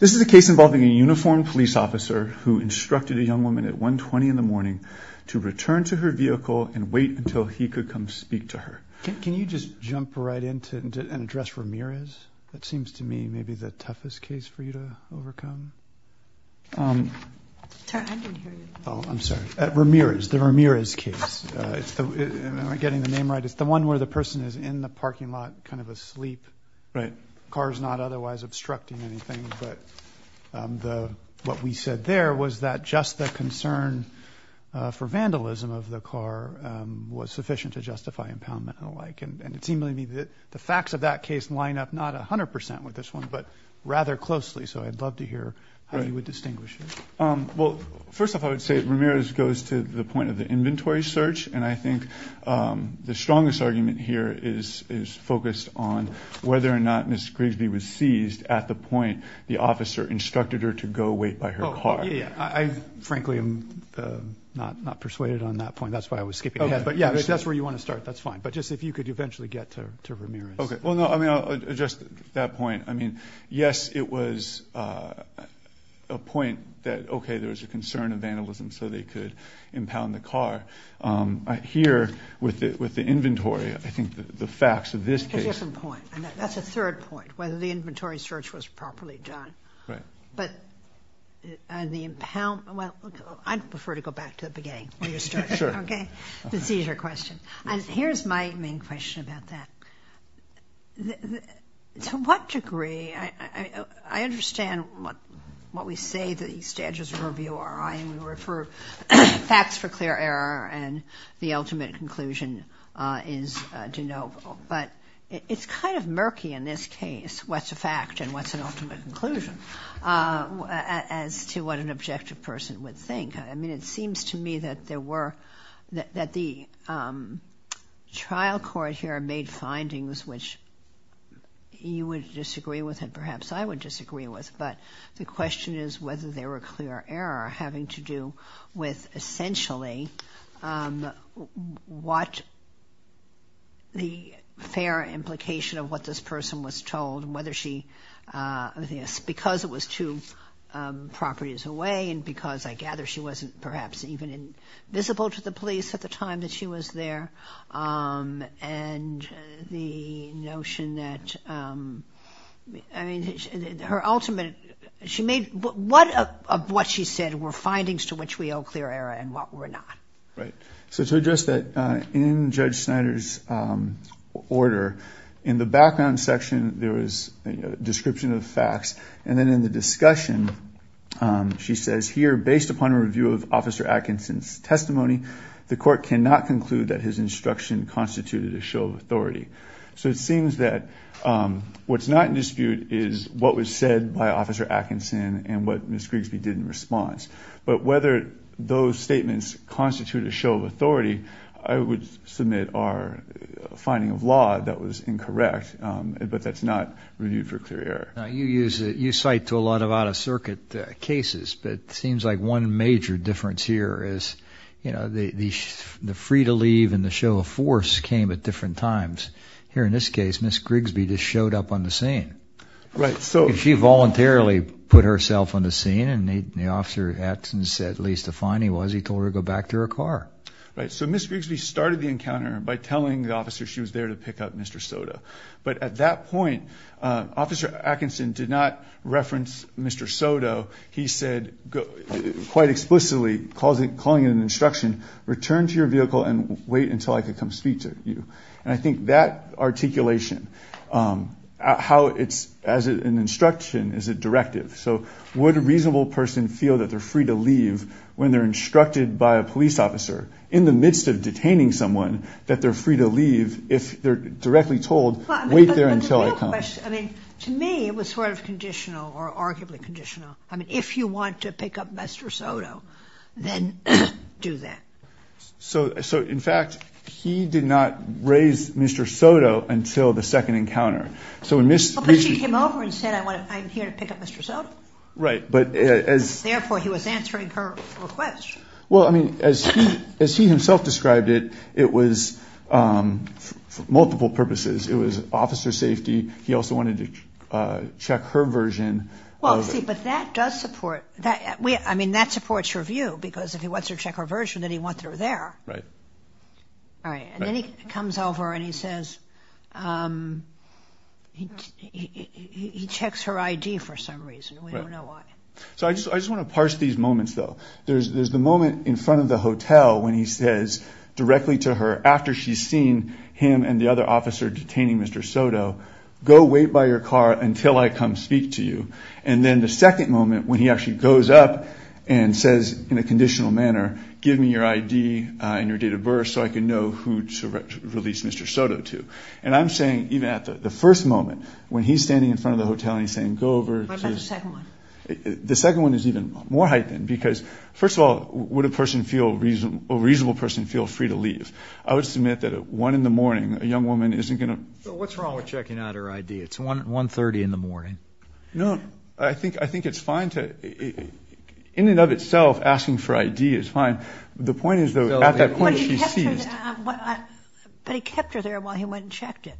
This is a case involving a uniformed police officer who instructed a young woman at 1.20 in the morning to return to her vehicle and wait until he could come speak to her. Can you just jump right in and address Ramirez? That seems to me maybe the toughest case for you to overcome. I'm sorry, Ramirez, the Ramirez case. I'm not getting the name right. It's the one where the person is in the parking lot, kind of asleep. Right. Cars not otherwise obstructing anything. But what we said there was that just the concern for vandalism of the car was sufficient to justify impoundment and the like. Well, first off, I would say Ramirez goes to the point of the inventory search. And I think the strongest argument here is focused on whether or not Miss Grigsby was seized at the point the officer instructed her to go wait by her car. I frankly am not persuaded on that point. That's why I was skipping ahead. But, yeah, that's where you want to start. That's fine. But just if you could eventually get to Ramirez. Okay. Well, no, I mean, just that point. I mean, yes, it was a point that, okay, there was a concern of vandalism so they could impound the car. Here with the inventory, I think the facts of this case. That's a different point. That's a third point, whether the inventory search was properly done. Right. But on the impound, well, I prefer to go back to the beginning where you started. Sure. Okay. The seizure question. And here's my main question about that. To what degree, I understand what we say, the status of review, facts for clear error, and the ultimate conclusion is de novo. But it's kind of murky in this case what's a fact and what's an ultimate conclusion as to what an objective person would think. I mean, it seems to me that there were, that the trial court here made findings which you would disagree with and perhaps I would disagree with. But the question is whether they were clear error having to do with essentially what the fair implication of what this person was told, and whether she, because it was two properties away and because I gather she wasn't perhaps even visible to the police at the time that she was there. And the notion that, I mean, her ultimate, she made, what of what she said were findings to which we owe clear error and what were not? Right. So to address that, in Judge Snyder's order, in the background section, there was a description of facts. And then in the discussion, she says here, based upon a review of Officer Atkinson's testimony, the court cannot conclude that his instruction constituted a show of authority. So it seems that what's not in dispute is what was said by Officer Atkinson and what Ms. Grigsby did in response. But whether those statements constitute a show of authority, I would submit our finding of law that was incorrect, but that's not reviewed for clear error. Now, you cite to a lot of out-of-circuit cases, but it seems like one major difference here is, you know, the free to leave and the show of force came at different times. Here in this case, Ms. Grigsby just showed up on the scene. Right. She voluntarily put herself on the scene, and the Officer Atkinson said at least the finding was he told her to go back to her car. Right. So Ms. Grigsby started the encounter by telling the officer she was there to pick up Mr. Soto. But at that point, Officer Atkinson did not reference Mr. Soto. He said quite explicitly, calling it an instruction, return to your vehicle and wait until I can come speak to you. And I think that articulation, how it's as an instruction is a directive. So would a reasonable person feel that they're free to leave when they're instructed by a police officer in the midst of detaining someone that they're free to leave if they're directly told, wait there until I come? But the real question, I mean, to me it was sort of conditional or arguably conditional. I mean, if you want to pick up Mr. Soto, then do that. So, in fact, he did not raise Mr. Soto until the second encounter. But she came over and said, I'm here to pick up Mr. Soto. Right. Therefore, he was answering her request. Well, I mean, as he himself described it, it was for multiple purposes. It was officer safety. He also wanted to check her version. Well, see, but that does support, I mean, that supports your view because if he wants to check her version, then he wants her there. Right. Right. And then he comes over and he says, he checks her ID for some reason. We don't know why. So I just want to parse these moments, though. There's the moment in front of the hotel when he says directly to her after she's seen him and the other officer detaining Mr. Soto, go wait by your car until I come speak to you. And then the second moment when he actually goes up and says in a conditional manner, give me your ID and your date of birth so I can know who to release Mr. Soto to. And I'm saying even at the first moment when he's standing in front of the hotel and he's saying go over. What about the second one? The second one is even more heightened because, first of all, would a person feel, a reasonable person feel free to leave? I would submit that at 1 in the morning, a young woman isn't going to. So what's wrong with checking out her ID? It's 1.30 in the morning. No, I think it's fine to, in and of itself, asking for ID is fine. The point is, though, at that point she's seized. But he kept her there while he went and checked it.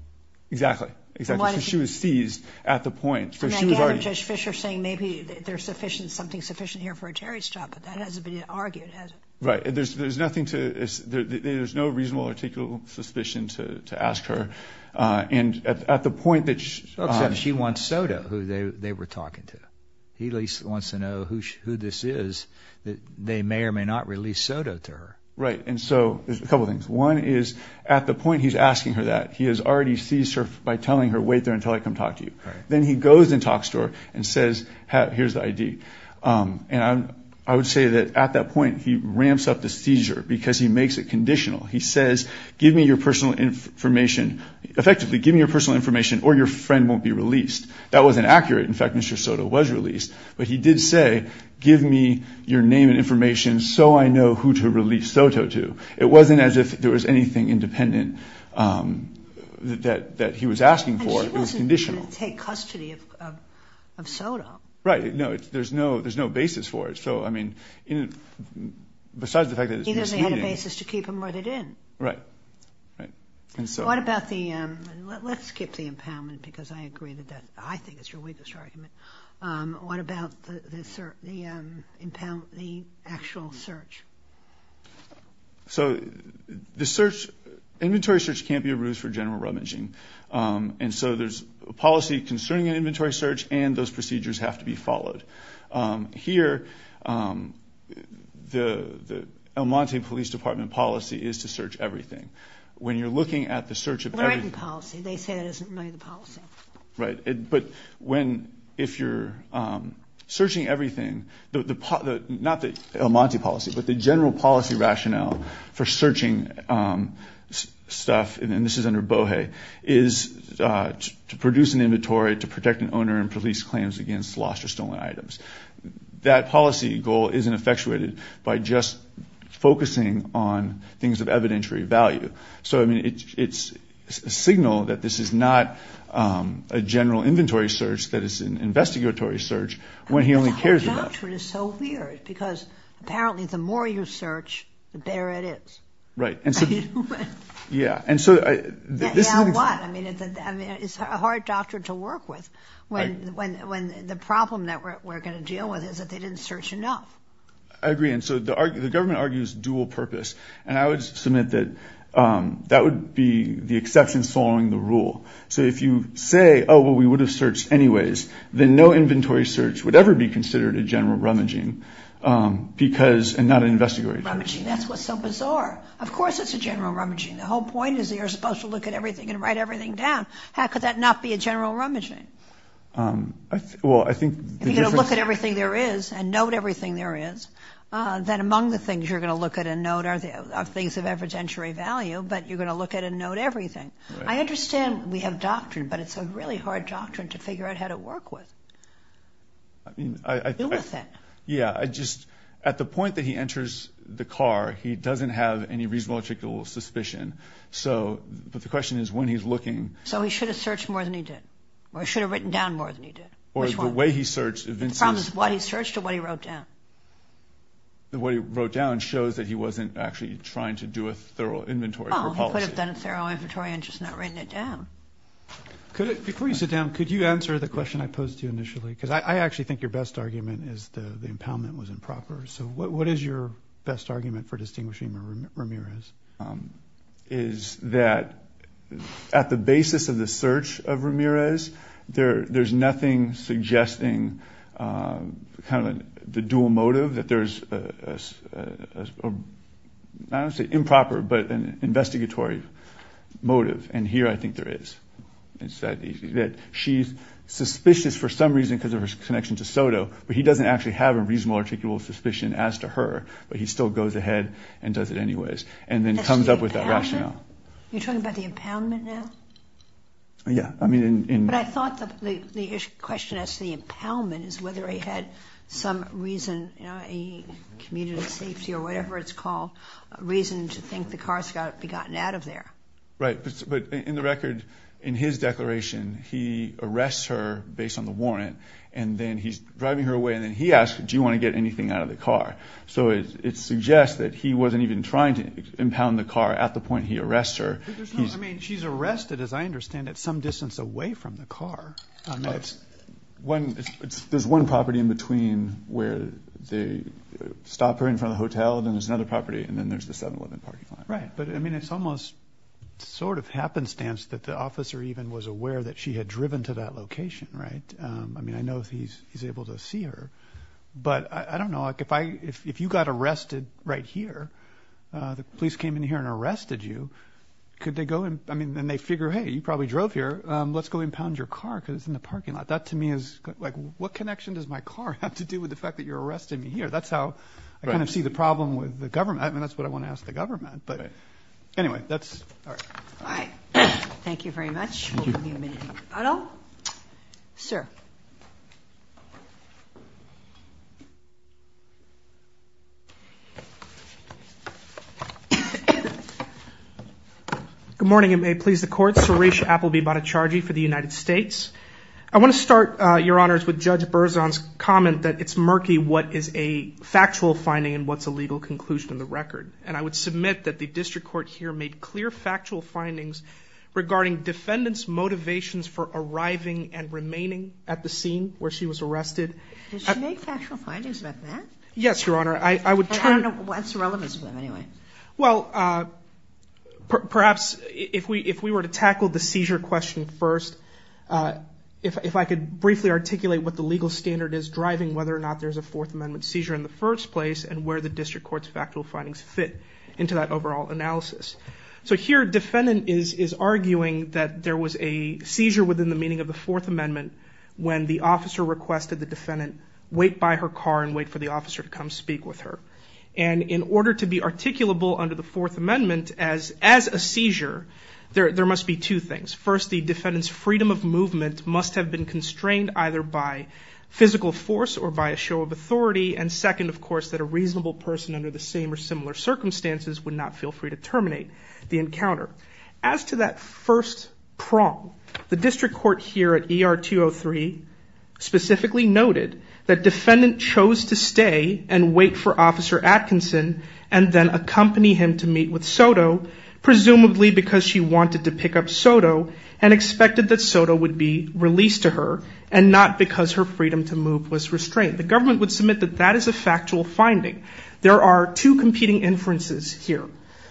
Exactly. Exactly. So she was seized at the point. So she was already. So now you have Judge Fischer saying maybe there's something sufficient here for a Terry's job, but that hasn't been argued, has it? Right. There's nothing to, there's no reasonable articulable suspicion to ask her. And at the point that she. Except she wants Soto, who they were talking to. He wants to know who this is, that they may or may not release Soto to her. Right. And so there's a couple of things. One is at the point he's asking her that, he has already seized her by telling her, wait there until I come talk to you. Then he goes and talks to her and says, here's the ID. And I would say that at that point he ramps up the seizure because he makes it conditional. He says, give me your personal information. Effectively, give me your personal information or your friend won't be released. That wasn't accurate. In fact, Mr. Soto was released. But he did say, give me your name and information so I know who to release Soto to. It wasn't as if there was anything independent that he was asking for. It was conditional. And she wasn't going to take custody of Soto. Right. No, there's no basis for it. So, I mean, besides the fact that it's misleading. He doesn't have a basis to keep him where they didn't. Right. Right. And so. What about the, let's skip the impoundment because I agree with that. I think it's your weakest argument. What about the actual search? So the search, inventory search can't be a ruse for general rummaging. And so there's a policy concerning an inventory search and those procedures have to be followed. Here, the El Monte Police Department policy is to search everything. When you're looking at the search of everything. They say that isn't really the policy. Right. But when, if you're searching everything, not the El Monte policy, but the general policy rationale for searching stuff, and this is under BOHE, is to produce an inventory to protect an owner and police claims against lost or stolen items. That policy goal isn't effectuated by just focusing on things of evidentiary value. So, I mean, it's a signal that this is not a general inventory search, that it's an investigatory search when he only cares about. Because apparently the more you search, the better it is. Right. Yeah. And so. I mean, it's a hard doctor to work with when the problem that we're going to deal with is that they didn't search enough. I agree. And so the government argues dual purpose. And I would submit that that would be the exception following the rule. So if you say, oh, well, we would have searched anyways, then no inventory search would ever be considered a general rummaging because, and not an investigatory search. Rummaging. That's what's so bizarre. Of course it's a general rummaging. The whole point is you're supposed to look at everything and write everything down. How could that not be a general rummaging? Well, I think. If you're going to look at everything there is and note everything there is, then among the things you're going to look at and note are things of evidentiary value, but you're going to look at and note everything. I understand we have doctrine, but it's a really hard doctrine to figure out how to work with. I mean, I. Do with it. Yeah. I just. At the point that he enters the car, he doesn't have any reasonable or particular suspicion. So. But the question is when he's looking. So he should have searched more than he did. Or he should have written down more than he did. Which one? Or the way he searched. The problem is what he searched or what he wrote down. The way he wrote down shows that he wasn't actually trying to do a thorough inventory or policy. He could have done a thorough inventory and just not written it down. Before you sit down, could you answer the question I posed to you initially? Because I actually think your best argument is the impoundment was improper. So what is your best argument for distinguishing Ramirez? Is that at the basis of the search of Ramirez, there's nothing suggesting kind of the dual motive that there's, I don't want to say improper, but an investigatory motive. And here I think there is. She's suspicious for some reason because of her connection to Soto. But he doesn't actually have a reasonable or particular suspicion as to her. But he still goes ahead and does it anyways. And then comes up with that rationale. You're talking about the impoundment now? Yeah. But I thought the question as to the impoundment is whether he had some reason. Community safety or whatever it's called. A reason to think the car's got to be gotten out of there. Right. But in the record, in his declaration, he arrests her based on the warrant. And then he's driving her away. And then he asks, do you want to get anything out of the car? So it suggests that he wasn't even trying to impound the car at the point he arrests her. I mean, she's arrested, as I understand it, some distance away from the car. There's one property in between where they stop her in front of the hotel. Then there's another property. And then there's the 7-Eleven parking lot. Right. But, I mean, it's almost sort of happenstance that the officer even was aware that she had driven to that location. Right? I mean, I know he's able to see her. But I don't know. If you got arrested right here, the police came in here and arrested you, could they go and – I mean, then they figure, hey, you probably drove here. Let's go impound your car because it's in the parking lot. That, to me, is – like, what connection does my car have to do with the fact that you're arresting me here? That's how I kind of see the problem with the government. I mean, that's what I want to ask the government. But, anyway, that's – all right. All right. Thank you very much. We'll give you a minute to get a bottle. Sir. Good morning. It may please the Court. My name is Suresh Appleby Bhattacharjee for the United States. I want to start, Your Honors, with Judge Berzon's comment that it's murky what is a factual finding and what's a legal conclusion of the record. And I would submit that the district court here made clear factual findings regarding defendants' motivations for arriving and remaining at the scene where she was arrested. Did she make factual findings about that? Yes, Your Honor. I would turn – I don't know what's the relevance of them, anyway. Well, perhaps if we were to tackle the seizure question first, if I could briefly articulate what the legal standard is driving whether or not there's a Fourth Amendment seizure in the first place and where the district court's factual findings fit into that overall analysis. So, here, defendant is arguing that there was a seizure within the meaning of the Fourth Amendment when the officer requested the defendant wait by her car and wait for the officer to come speak with her. And in order to be articulable under the Fourth Amendment as a seizure, there must be two things. First, the defendant's freedom of movement must have been constrained either by physical force or by a show of authority. And second, of course, that a reasonable person under the same or similar circumstances would not feel free to terminate the encounter. As to that first prong, the district court here at ER 203 specifically noted that defendant chose to stay and wait for Officer Atkinson and then accompany him to meet with Soto, presumably because she wanted to pick up Soto and expected that Soto would be released to her and not because her freedom to move was restrained. The government would submit that that is a factual finding. There are two competing inferences here.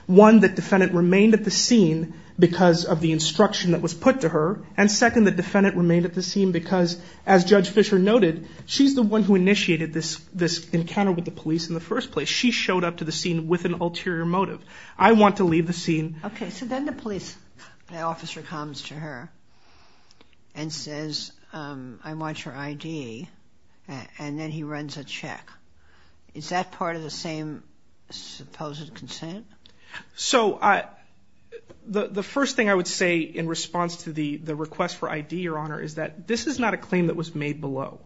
One, that defendant remained at the scene because of the instruction that was put to her. And second, that defendant remained at the scene because, as Judge Fischer noted, she's the one who initiated this encounter with the police in the first place. She showed up to the scene with an ulterior motive. I want to leave the scene. Okay, so then the police officer comes to her and says, I want your ID, and then he runs a check. Is that part of the same supposed consent? So the first thing I would say in response to the request for ID, Your Honor, is that this is not a claim that was made below.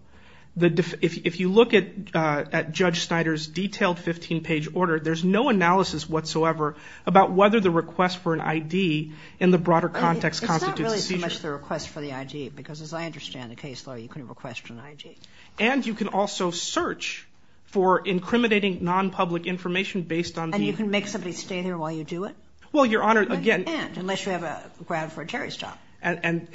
If you look at Judge Snyder's detailed 15-page order, there's no analysis whatsoever about whether the request for an ID in the broader context constitutes a seizure. It's not really so much the request for the ID, because as I understand the case, though, you couldn't request an ID. And you can also search for incriminating nonpublic information based on the ID. And you can make somebody stay there while you do it? Well, Your Honor, again – But you can't, unless you have a ground for a Terry stop. And,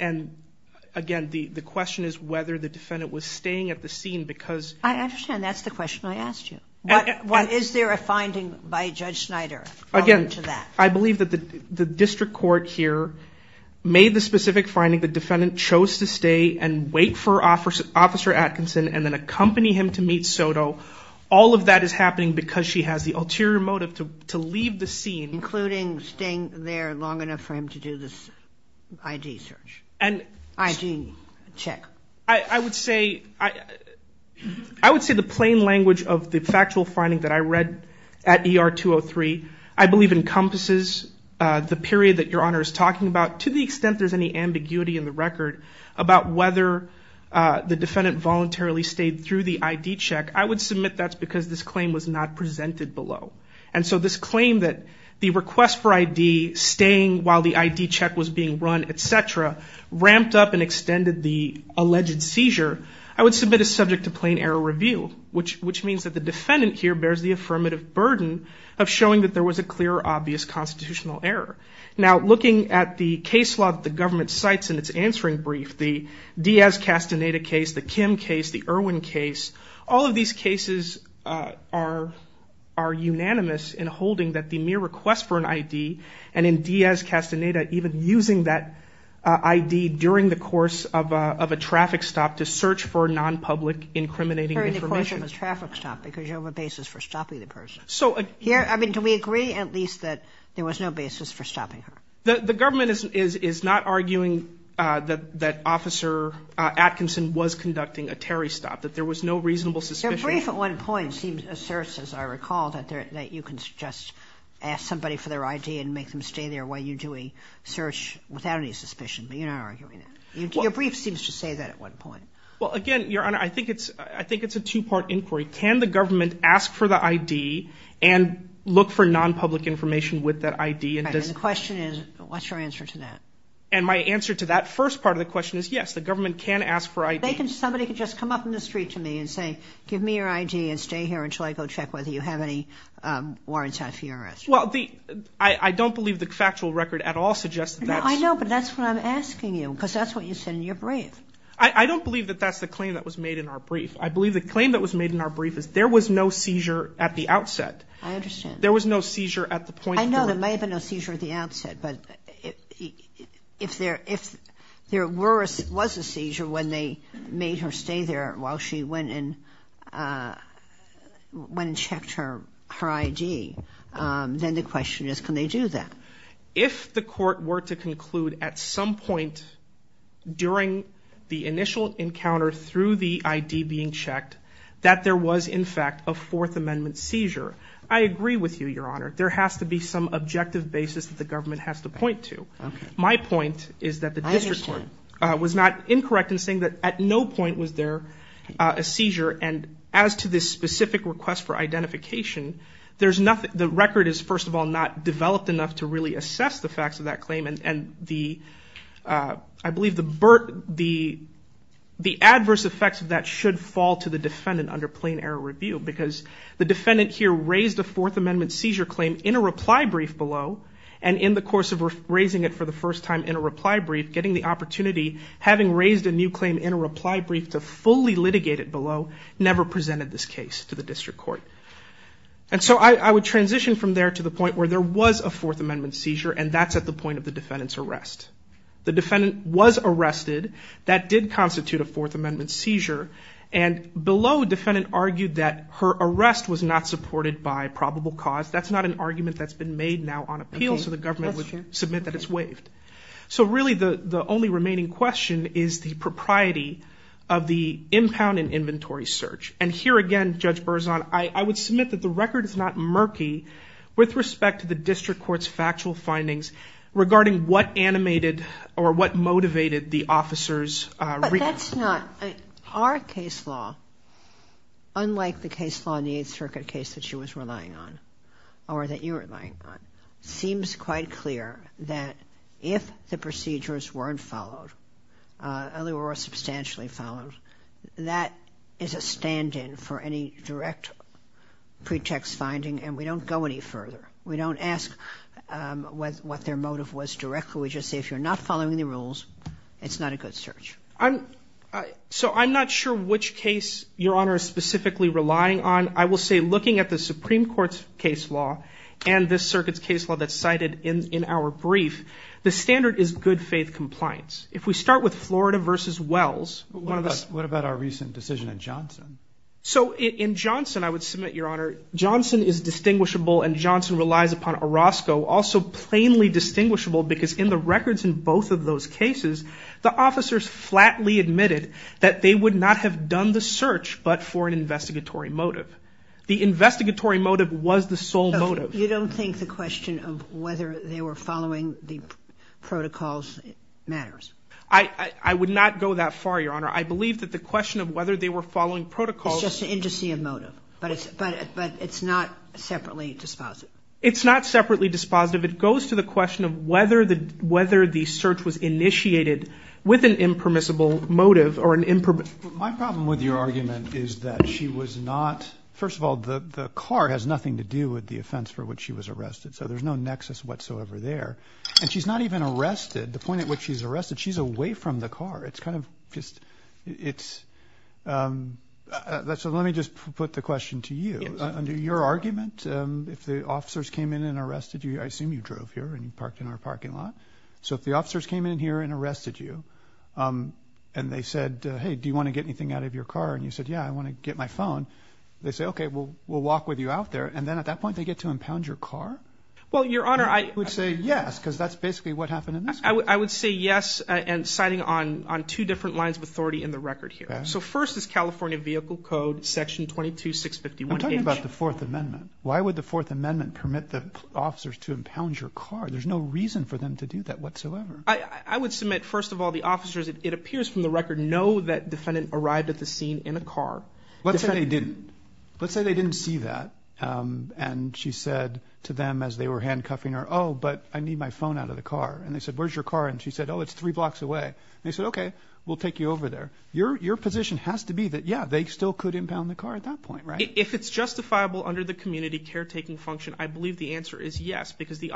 again, the question is whether the defendant was staying at the scene because – I understand. That's the question I asked you. Is there a finding by Judge Snyder? Again, I believe that the district court here made the specific finding the defendant chose to stay and wait for Officer Atkinson and then accompany him to meet Soto. All of that is happening because she has the ulterior motive to leave the scene. Including staying there long enough for him to do this ID search, ID check? I would say the plain language of the factual finding that I read at ER 203, I believe, encompasses the period that Your Honor is talking about. To the extent there's any ambiguity in the record about whether the defendant voluntarily stayed through the ID check, I would submit that's because this claim was not presented below. And so this claim that the request for ID staying while the ID check was being run, et cetera, ramped up and extended the alleged seizure, I would submit as subject to plain error review, which means that the defendant here bears the affirmative burden of showing that there was a clear, obvious constitutional error. Now, looking at the case law that the government cites in its answering brief, the Diaz-Castaneda case, the Kim case, the Irwin case, all of these cases are unanimous in holding that the mere request for an ID and in Diaz-Castaneda even using that ID during the course of a traffic stop to search for non-public incriminating information. During the course of a traffic stop because you have a basis for stopping the person. I mean, do we agree at least that there was no basis for stopping her? The government is not arguing that Officer Atkinson was conducting a Terry stop, that there was no reasonable suspicion. Their brief at one point asserts, as I recall, that you can just ask somebody for their ID and make them stay there while you're doing search without any suspicion, but you're not arguing that. Your brief seems to say that at one point. Well, again, Your Honor, I think it's a two-part inquiry. Can the government ask for the ID and look for non-public information with that ID? And the question is, what's your answer to that? And my answer to that first part of the question is, yes, the government can ask for ID. Somebody can just come up in the street to me and say, give me your ID and stay here until I go check whether you have any warrants out for your arrest. Well, I don't believe the factual record at all suggests that. I know, but that's what I'm asking you because that's what you said in your brief. I don't believe that that's the claim that was made in our brief. I believe the claim that was made in our brief is there was no seizure at the outset. I understand. There was no seizure at the point. I know there may have been no seizure at the outset, but if there was a seizure when they made her stay there while she went and checked her ID, then the question is, can they do that? If the court were to conclude at some point during the initial encounter through the ID being checked that there was, in fact, a Fourth Amendment seizure, I agree with you, Your Honor. There has to be some objective basis that the government has to point to. My point is that the district court was not incorrect in saying that at no point was there a seizure. And as to this specific request for identification, the record is, first of all, not developed enough to really assess the facts of that claim. And I believe the adverse effects of that should fall to the defendant under plain error review because the defendant here raised a Fourth Amendment seizure claim in a reply brief below, and in the course of raising it for the first time in a reply brief, getting the opportunity, having raised a new claim in a reply brief to fully litigate it below, never presented this case to the district court. And so I would transition from there to the point where there was a Fourth Amendment seizure, and that's at the point of the defendant's arrest. The defendant was arrested. That did constitute a Fourth Amendment seizure. And below, the defendant argued that her arrest was not supported by probable cause. That's not an argument that's been made now on appeal, so the government would submit that it's waived. So really the only remaining question is the propriety of the impound and inventory search. And here again, Judge Berzon, I would submit that the record is not murky with respect to the district court's factual findings regarding what animated or what motivated the officer's request. That's not – our case law, unlike the case law in the Eighth Circuit case that she was relying on or that you were relying on, seems quite clear that if the procedures weren't followed or were substantially followed, that is a stand-in for any direct pretext finding, and we don't go any further. We don't ask what their motive was directly. We just say if you're not following the rules, it's not a good search. So I'm not sure which case Your Honor is specifically relying on. I will say looking at the Supreme Court's case law and this circuit's case law that's cited in our brief, the standard is good-faith compliance. If we start with Florida v. Wells, one of the – What about our recent decision in Johnson? So in Johnson, I would submit, Your Honor, Johnson is distinguishable and Johnson relies upon Orozco, also plainly distinguishable because in the records in both of those cases, the officers flatly admitted that they would not have done the search but for an investigatory motive. The investigatory motive was the sole motive. You don't think the question of whether they were following the protocols matters? I would not go that far, Your Honor. I believe that the question of whether they were following protocols – It's just an indice of motive, but it's not separately dispositive. It's not separately dispositive. It goes to the question of whether the search was initiated with an impermissible motive or an – My problem with your argument is that she was not – First of all, the car has nothing to do with the offense for which she was arrested. So there's no nexus whatsoever there. And she's not even arrested. The point at which she's arrested, she's away from the car. It's kind of just – it's – So let me just put the question to you. Under your argument, if the officers came in and arrested you – I assume you drove here and you parked in our parking lot. So if the officers came in here and arrested you and they said, hey, do you want to get anything out of your car? And you said, yeah, I want to get my phone. They say, okay, we'll walk with you out there. And then at that point they get to impound your car? Well, Your Honor, I – You would say yes because that's basically what happened in this case. I would say yes and citing on two different lines of authority in the record here. So first is California Vehicle Code Section 22651H. I'm talking about the Fourth Amendment. Why would the Fourth Amendment permit the officers to impound your car? There's no reason for them to do that whatsoever. I would submit, first of all, the officers, it appears from the record, know that defendant arrived at the scene in a car. Let's say they didn't. Let's say they didn't see that and she said to them as they were handcuffing her, oh, but I need my phone out of the car. And they said, where's your car? And she said, oh, it's three blocks away. And they said, okay, we'll take you over there. Your position has to be that, yeah, they still could impound the car at that point, right? If it's justifiable under the community caretaking function, I believe the answer is yes because the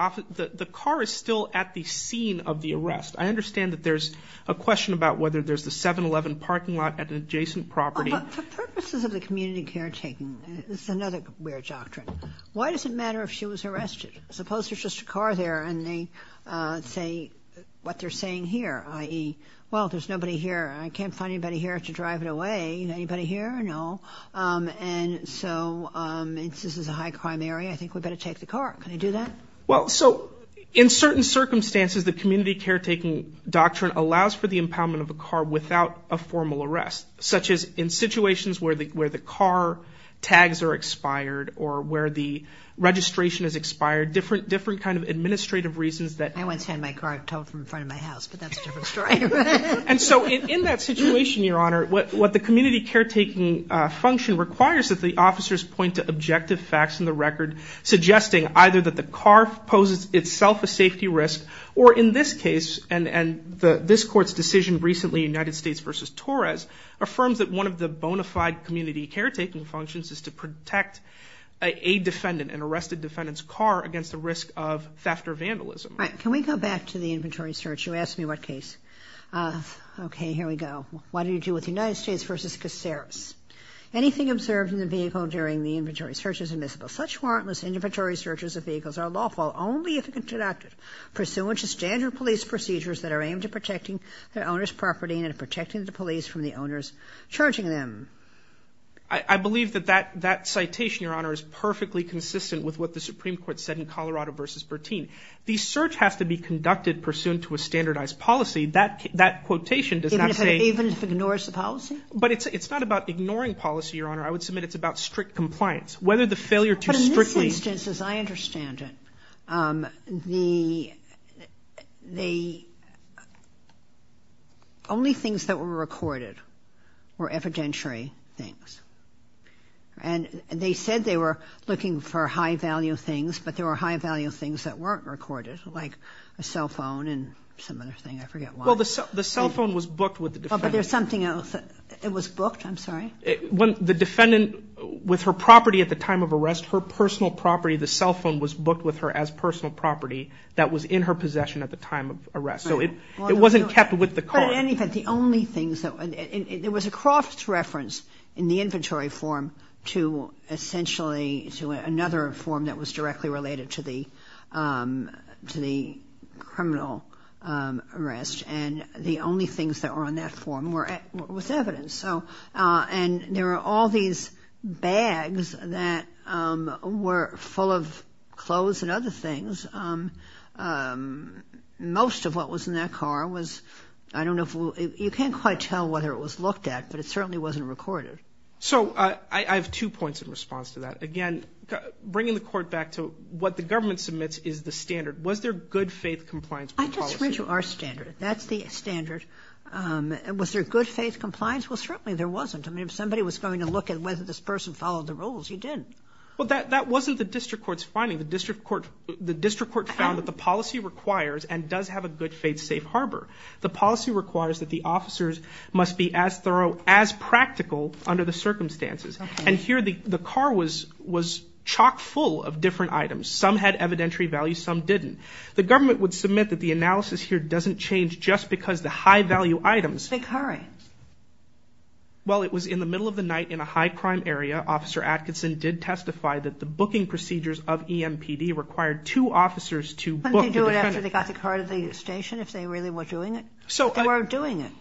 car is still at the scene of the arrest. I understand that there's a question about whether there's the 7-Eleven parking lot at an adjacent property. For purposes of the community caretaking, this is another weird doctrine. Why does it matter if she was arrested? Suppose there's just a car there and they say what they're saying here, i.e., well, there's nobody here and I can't find anybody here to drive it away. Anybody here? No. And so this is a high-crime area. I think we'd better take the car. Can they do that? Well, so in certain circumstances, the community caretaking doctrine allows for the impoundment of a car without a formal arrest, such as in situations where the car tags are expired or where the registration is expired, different kind of administrative reasons that. I once had my car towed from the front of my house, but that's a different story. And so in that situation, Your Honor, what the community caretaking function requires is that the officers point to objective facts in the record, suggesting either that the car poses itself a safety risk or, in this case, and this Court's decision recently, United States v. Torres, affirms that one of the bona fide community caretaking functions is to protect a defendant, an arrested defendant's car, against the risk of theft or vandalism. Can we go back to the inventory search? You asked me what case. Okay, here we go. What do you do with United States v. Caceres? Anything observed in the vehicle during the inventory search is admissible. Such warrantless inventory searches of vehicles are lawful only if introductive, pursuant to standard police procedures that are aimed at protecting the owner's property and at protecting the police from the owners charging them. I believe that that citation, Your Honor, is perfectly consistent with what the Supreme Court said in Colorado v. Bertin. The search has to be conducted pursuant to a standardized policy. That quotation does not say. Even if it ignores the policy? But it's not about ignoring policy, Your Honor. I would submit it's about strict compliance. Whether the failure to strictly. But in this instance, as I understand it, the only things that were recorded were evidentiary things. And they said they were looking for high-value things, but there were high-value things that weren't recorded, like a cell phone and some other thing. I forget why. Well, the cell phone was booked with the defendant. But there's something else. It was booked? I'm sorry? The defendant, with her property at the time of arrest, her personal property, the cell phone, was booked with her as personal property that was in her possession at the time of arrest. So it wasn't kept with the car. But in any event, the only things that – there was a cross-reference in the inventory form to essentially – to be related to the criminal arrest. And the only things that were on that form was evidence. And there were all these bags that were full of clothes and other things. Most of what was in that car was – I don't know if – you can't quite tell whether it was looked at, but it certainly wasn't recorded. So I have two points in response to that. Again, bringing the court back to what the government submits is the standard. Was there good-faith compliance policy? I just read you our standard. That's the standard. Was there good-faith compliance? Well, certainly there wasn't. I mean, if somebody was going to look at whether this person followed the rules, you didn't. Well, that wasn't the district court's finding. The district court found that the policy requires and does have a good-faith safe harbor. The policy requires that the officers must be as thorough, as practical under the circumstances. Okay. And here the car was chock-full of different items. Some had evidentiary value, some didn't. The government would submit that the analysis here doesn't change just because the high-value items – The car items. Well, it was in the middle of the night in a high-crime area. Officer Atkinson did testify that the booking procedures of EMPD required two officers to book the defendant. Couldn't they do it after they got the car to the station if they really were doing it? So – If they were doing it.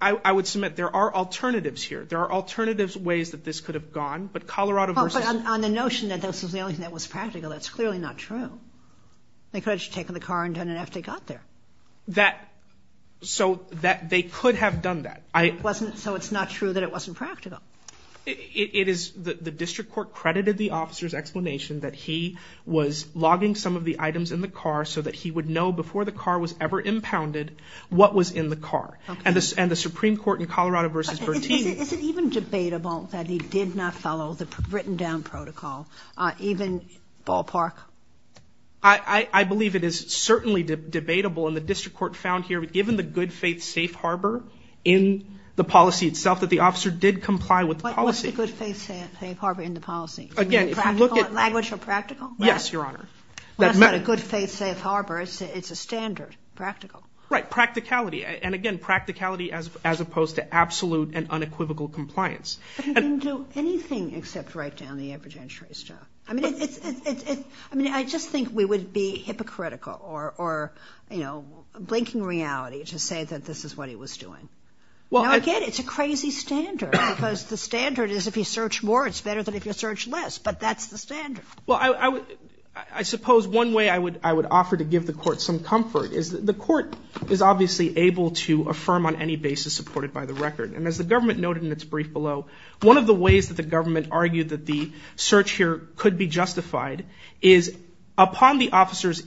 I would submit there are alternatives here. There are alternative ways that this could have gone. But Colorado versus – But on the notion that this was the only thing that was practical, that's clearly not true. They could have just taken the car and done it after they got there. That – so they could have done that. So it's not true that it wasn't practical. It is – the district court credited the officer's explanation that he was logging some of the items in the car so that he would know before the car was ever impounded what was in the car. And the Supreme Court in Colorado versus Bertini – Is it even debatable that he did not follow the written-down protocol, even ballpark? I believe it is certainly debatable, and the district court found here, given the good-faith safe harbor in the policy itself, that the officer did comply with the policy. What's the good-faith safe harbor in the policy? Again, if you look at – Language of practical? Yes, Your Honor. Well, that's not a good-faith safe harbor. It's a standard, practical. Right, practicality. And, again, practicality as opposed to absolute and unequivocal compliance. But he didn't do anything except write down the evidentiary stuff. I mean, it's – I mean, I just think we would be hypocritical or, you know, blinking reality to say that this is what he was doing. Now, again, it's a crazy standard because the standard is if you search more, it's better than if you search less. But that's the standard. Well, I suppose one way I would offer to give the court some comfort is that the court is obviously able to affirm on any basis supported by the record. And as the government noted in its brief below, one of the ways that the government argued that the search here could be justified is upon the officer's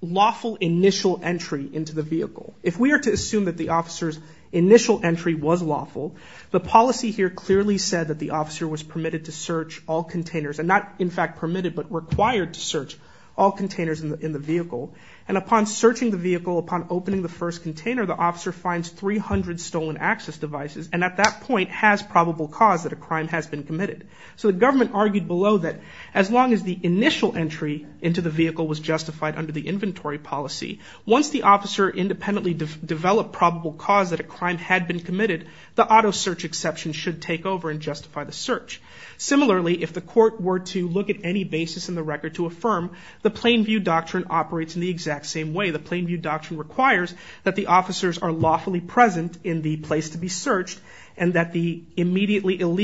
lawful initial entry into the vehicle. If we are to assume that the officer's initial entry was lawful, the policy here clearly said that the officer was permitted to search all containers and not, in fact, permitted but required to search all containers in the vehicle. And upon searching the vehicle, upon opening the first container, the officer finds 300 stolen access devices and at that point has probable cause that a crime has been committed. So the government argued below that as long as the initial entry into the vehicle was justified under the inventory policy, once the officer independently developed probable cause that a crime had been committed, the auto search exception should take over and justify the search. Similarly, if the court were to look at any basis in the record to affirm the Plainview Doctrine operates in the exact same way. The Plainview Doctrine requires that the officers are lawfully present in the place to be searched and that the illegal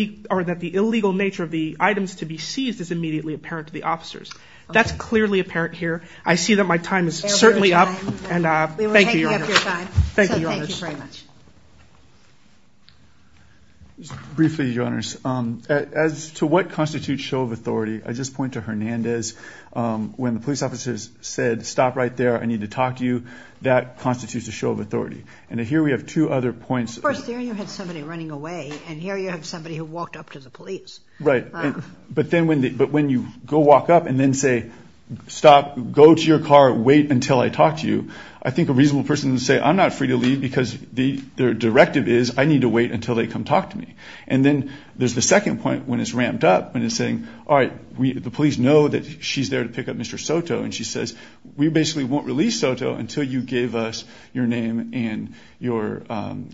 nature of the items to be seized is immediately apparent to the officers. That's clearly apparent here. I see that my time is certainly up. Thank you, Your Honors. Thank you, Your Honors. Briefly, Your Honors, as to what constitutes show of authority, I just point to Hernandez. When the police officers said, stop right there, I need to talk to you, that constitutes a show of authority. And here we have two other points. Of course, there you had somebody running away, and here you have somebody who walked up to the police. Right. But when you go walk up and then say, stop, go to your car, wait until I talk to you, I think a reasonable person would say, I'm not free to leave because their directive is, I need to wait until they come talk to me. And then there's the second point when it's ramped up and it's saying, all right, the police know that she's there to pick up Mr. Soto, and she says, we basically won't release Soto until you gave us your name and your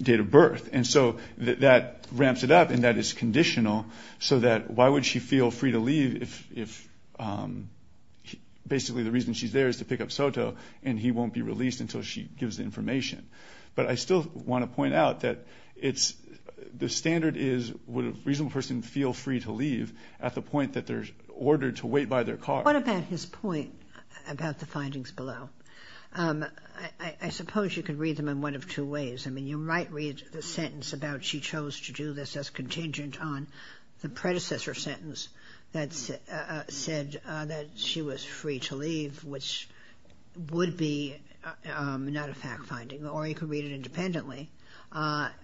date of birth. And so that ramps it up, and that is conditional, so that why would she feel free to leave if basically the reason she's there is to pick up Soto and he won't be released until she gives the information. But I still want to point out that the standard is, would a reasonable person feel free to leave at the point that they're ordered to wait by their car? What about his point about the findings below? I suppose you could read them in one of two ways. I mean, you might read the sentence about she chose to do this as contingent on the predecessor sentence that said that she was free to leave, which would be not a fact finding. Or you could read it independently,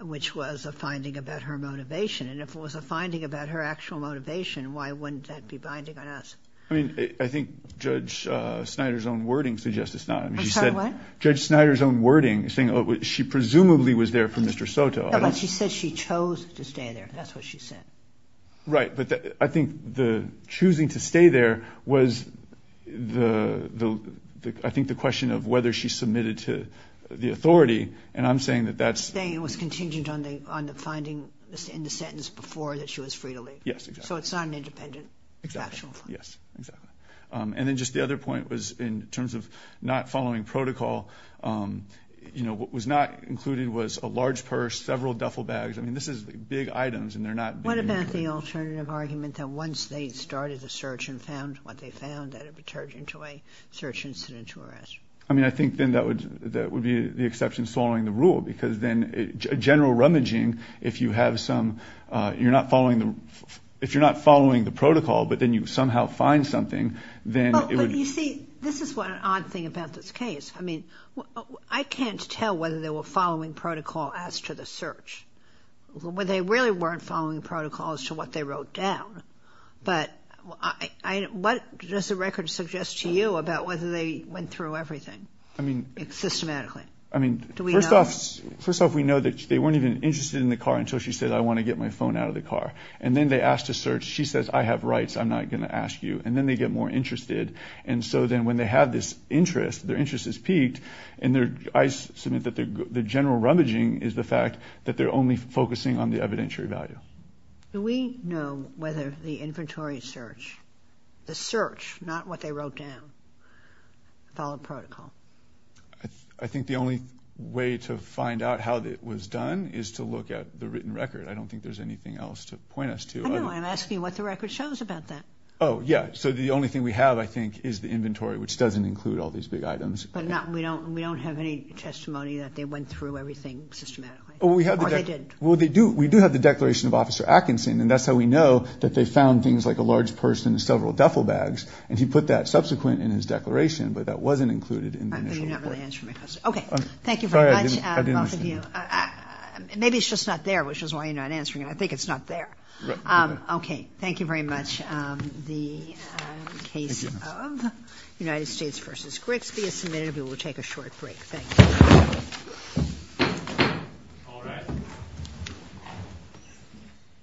which was a finding about her motivation. And if it was a finding about her actual motivation, why wouldn't that be binding on us? I mean, I think Judge Snyder's own wording suggests it's not. I'm sorry, what? Judge Snyder's own wording saying she presumably was there for Mr. Soto. But she said she chose to stay there. That's what she said. Right. But I think the choosing to stay there was, I think, the question of whether she submitted to the authority. And I'm saying that that's. It was contingent on the finding in the sentence before that she was free to leave. Yes, exactly. So it's not an independent factual finding. Yes, exactly. And then just the other point was in terms of not following protocol. You know, what was not included was a large purse, several duffel bags. I mean, this is big items and they're not. What about the alternative argument that once they started the search and found what they found, that it would turn into a search incident to arrest? I mean, I think then that would be the exception following the rule because then general rummaging, if you're not following the protocol but then you somehow find something, then it would. You see, this is what an odd thing about this case. I mean, I can't tell whether they were following protocol as to the search. They really weren't following protocol as to what they wrote down. But what does the record suggest to you about whether they went through everything systematically? I mean, first off, we know that they weren't even interested in the car until she said, I want to get my phone out of the car. And then they asked to search. She says, I have rights. I'm not going to ask you. And then they get more interested. And so then when they have this interest, their interest is piqued. And I submit that the general rummaging is the fact that they're only focusing on the evidentiary value. Do we know whether the inventory search, the search, not what they wrote down, followed protocol? I think the only way to find out how it was done is to look at the written record. I don't think there's anything else to point us to. I don't know. I'm asking you what the record shows about that. Oh, yeah. So the only thing we have, I think, is the inventory, which doesn't include all these big items. But we don't have any testimony that they went through everything systematically. Or they didn't. Well, we do have the declaration of Officer Atkinson. And that's how we know that they found things like a large purse and several duffel bags. And he put that subsequent in his declaration. But that wasn't included in the initial report. You're not really answering my question. Okay. Thank you very much. Sorry, I didn't understand. Maybe it's just not there, which is why you're not answering it. I think it's not there. Okay. Thank you very much. The case of United States v. Grigsby is submitted. We will take a short break. Thank you.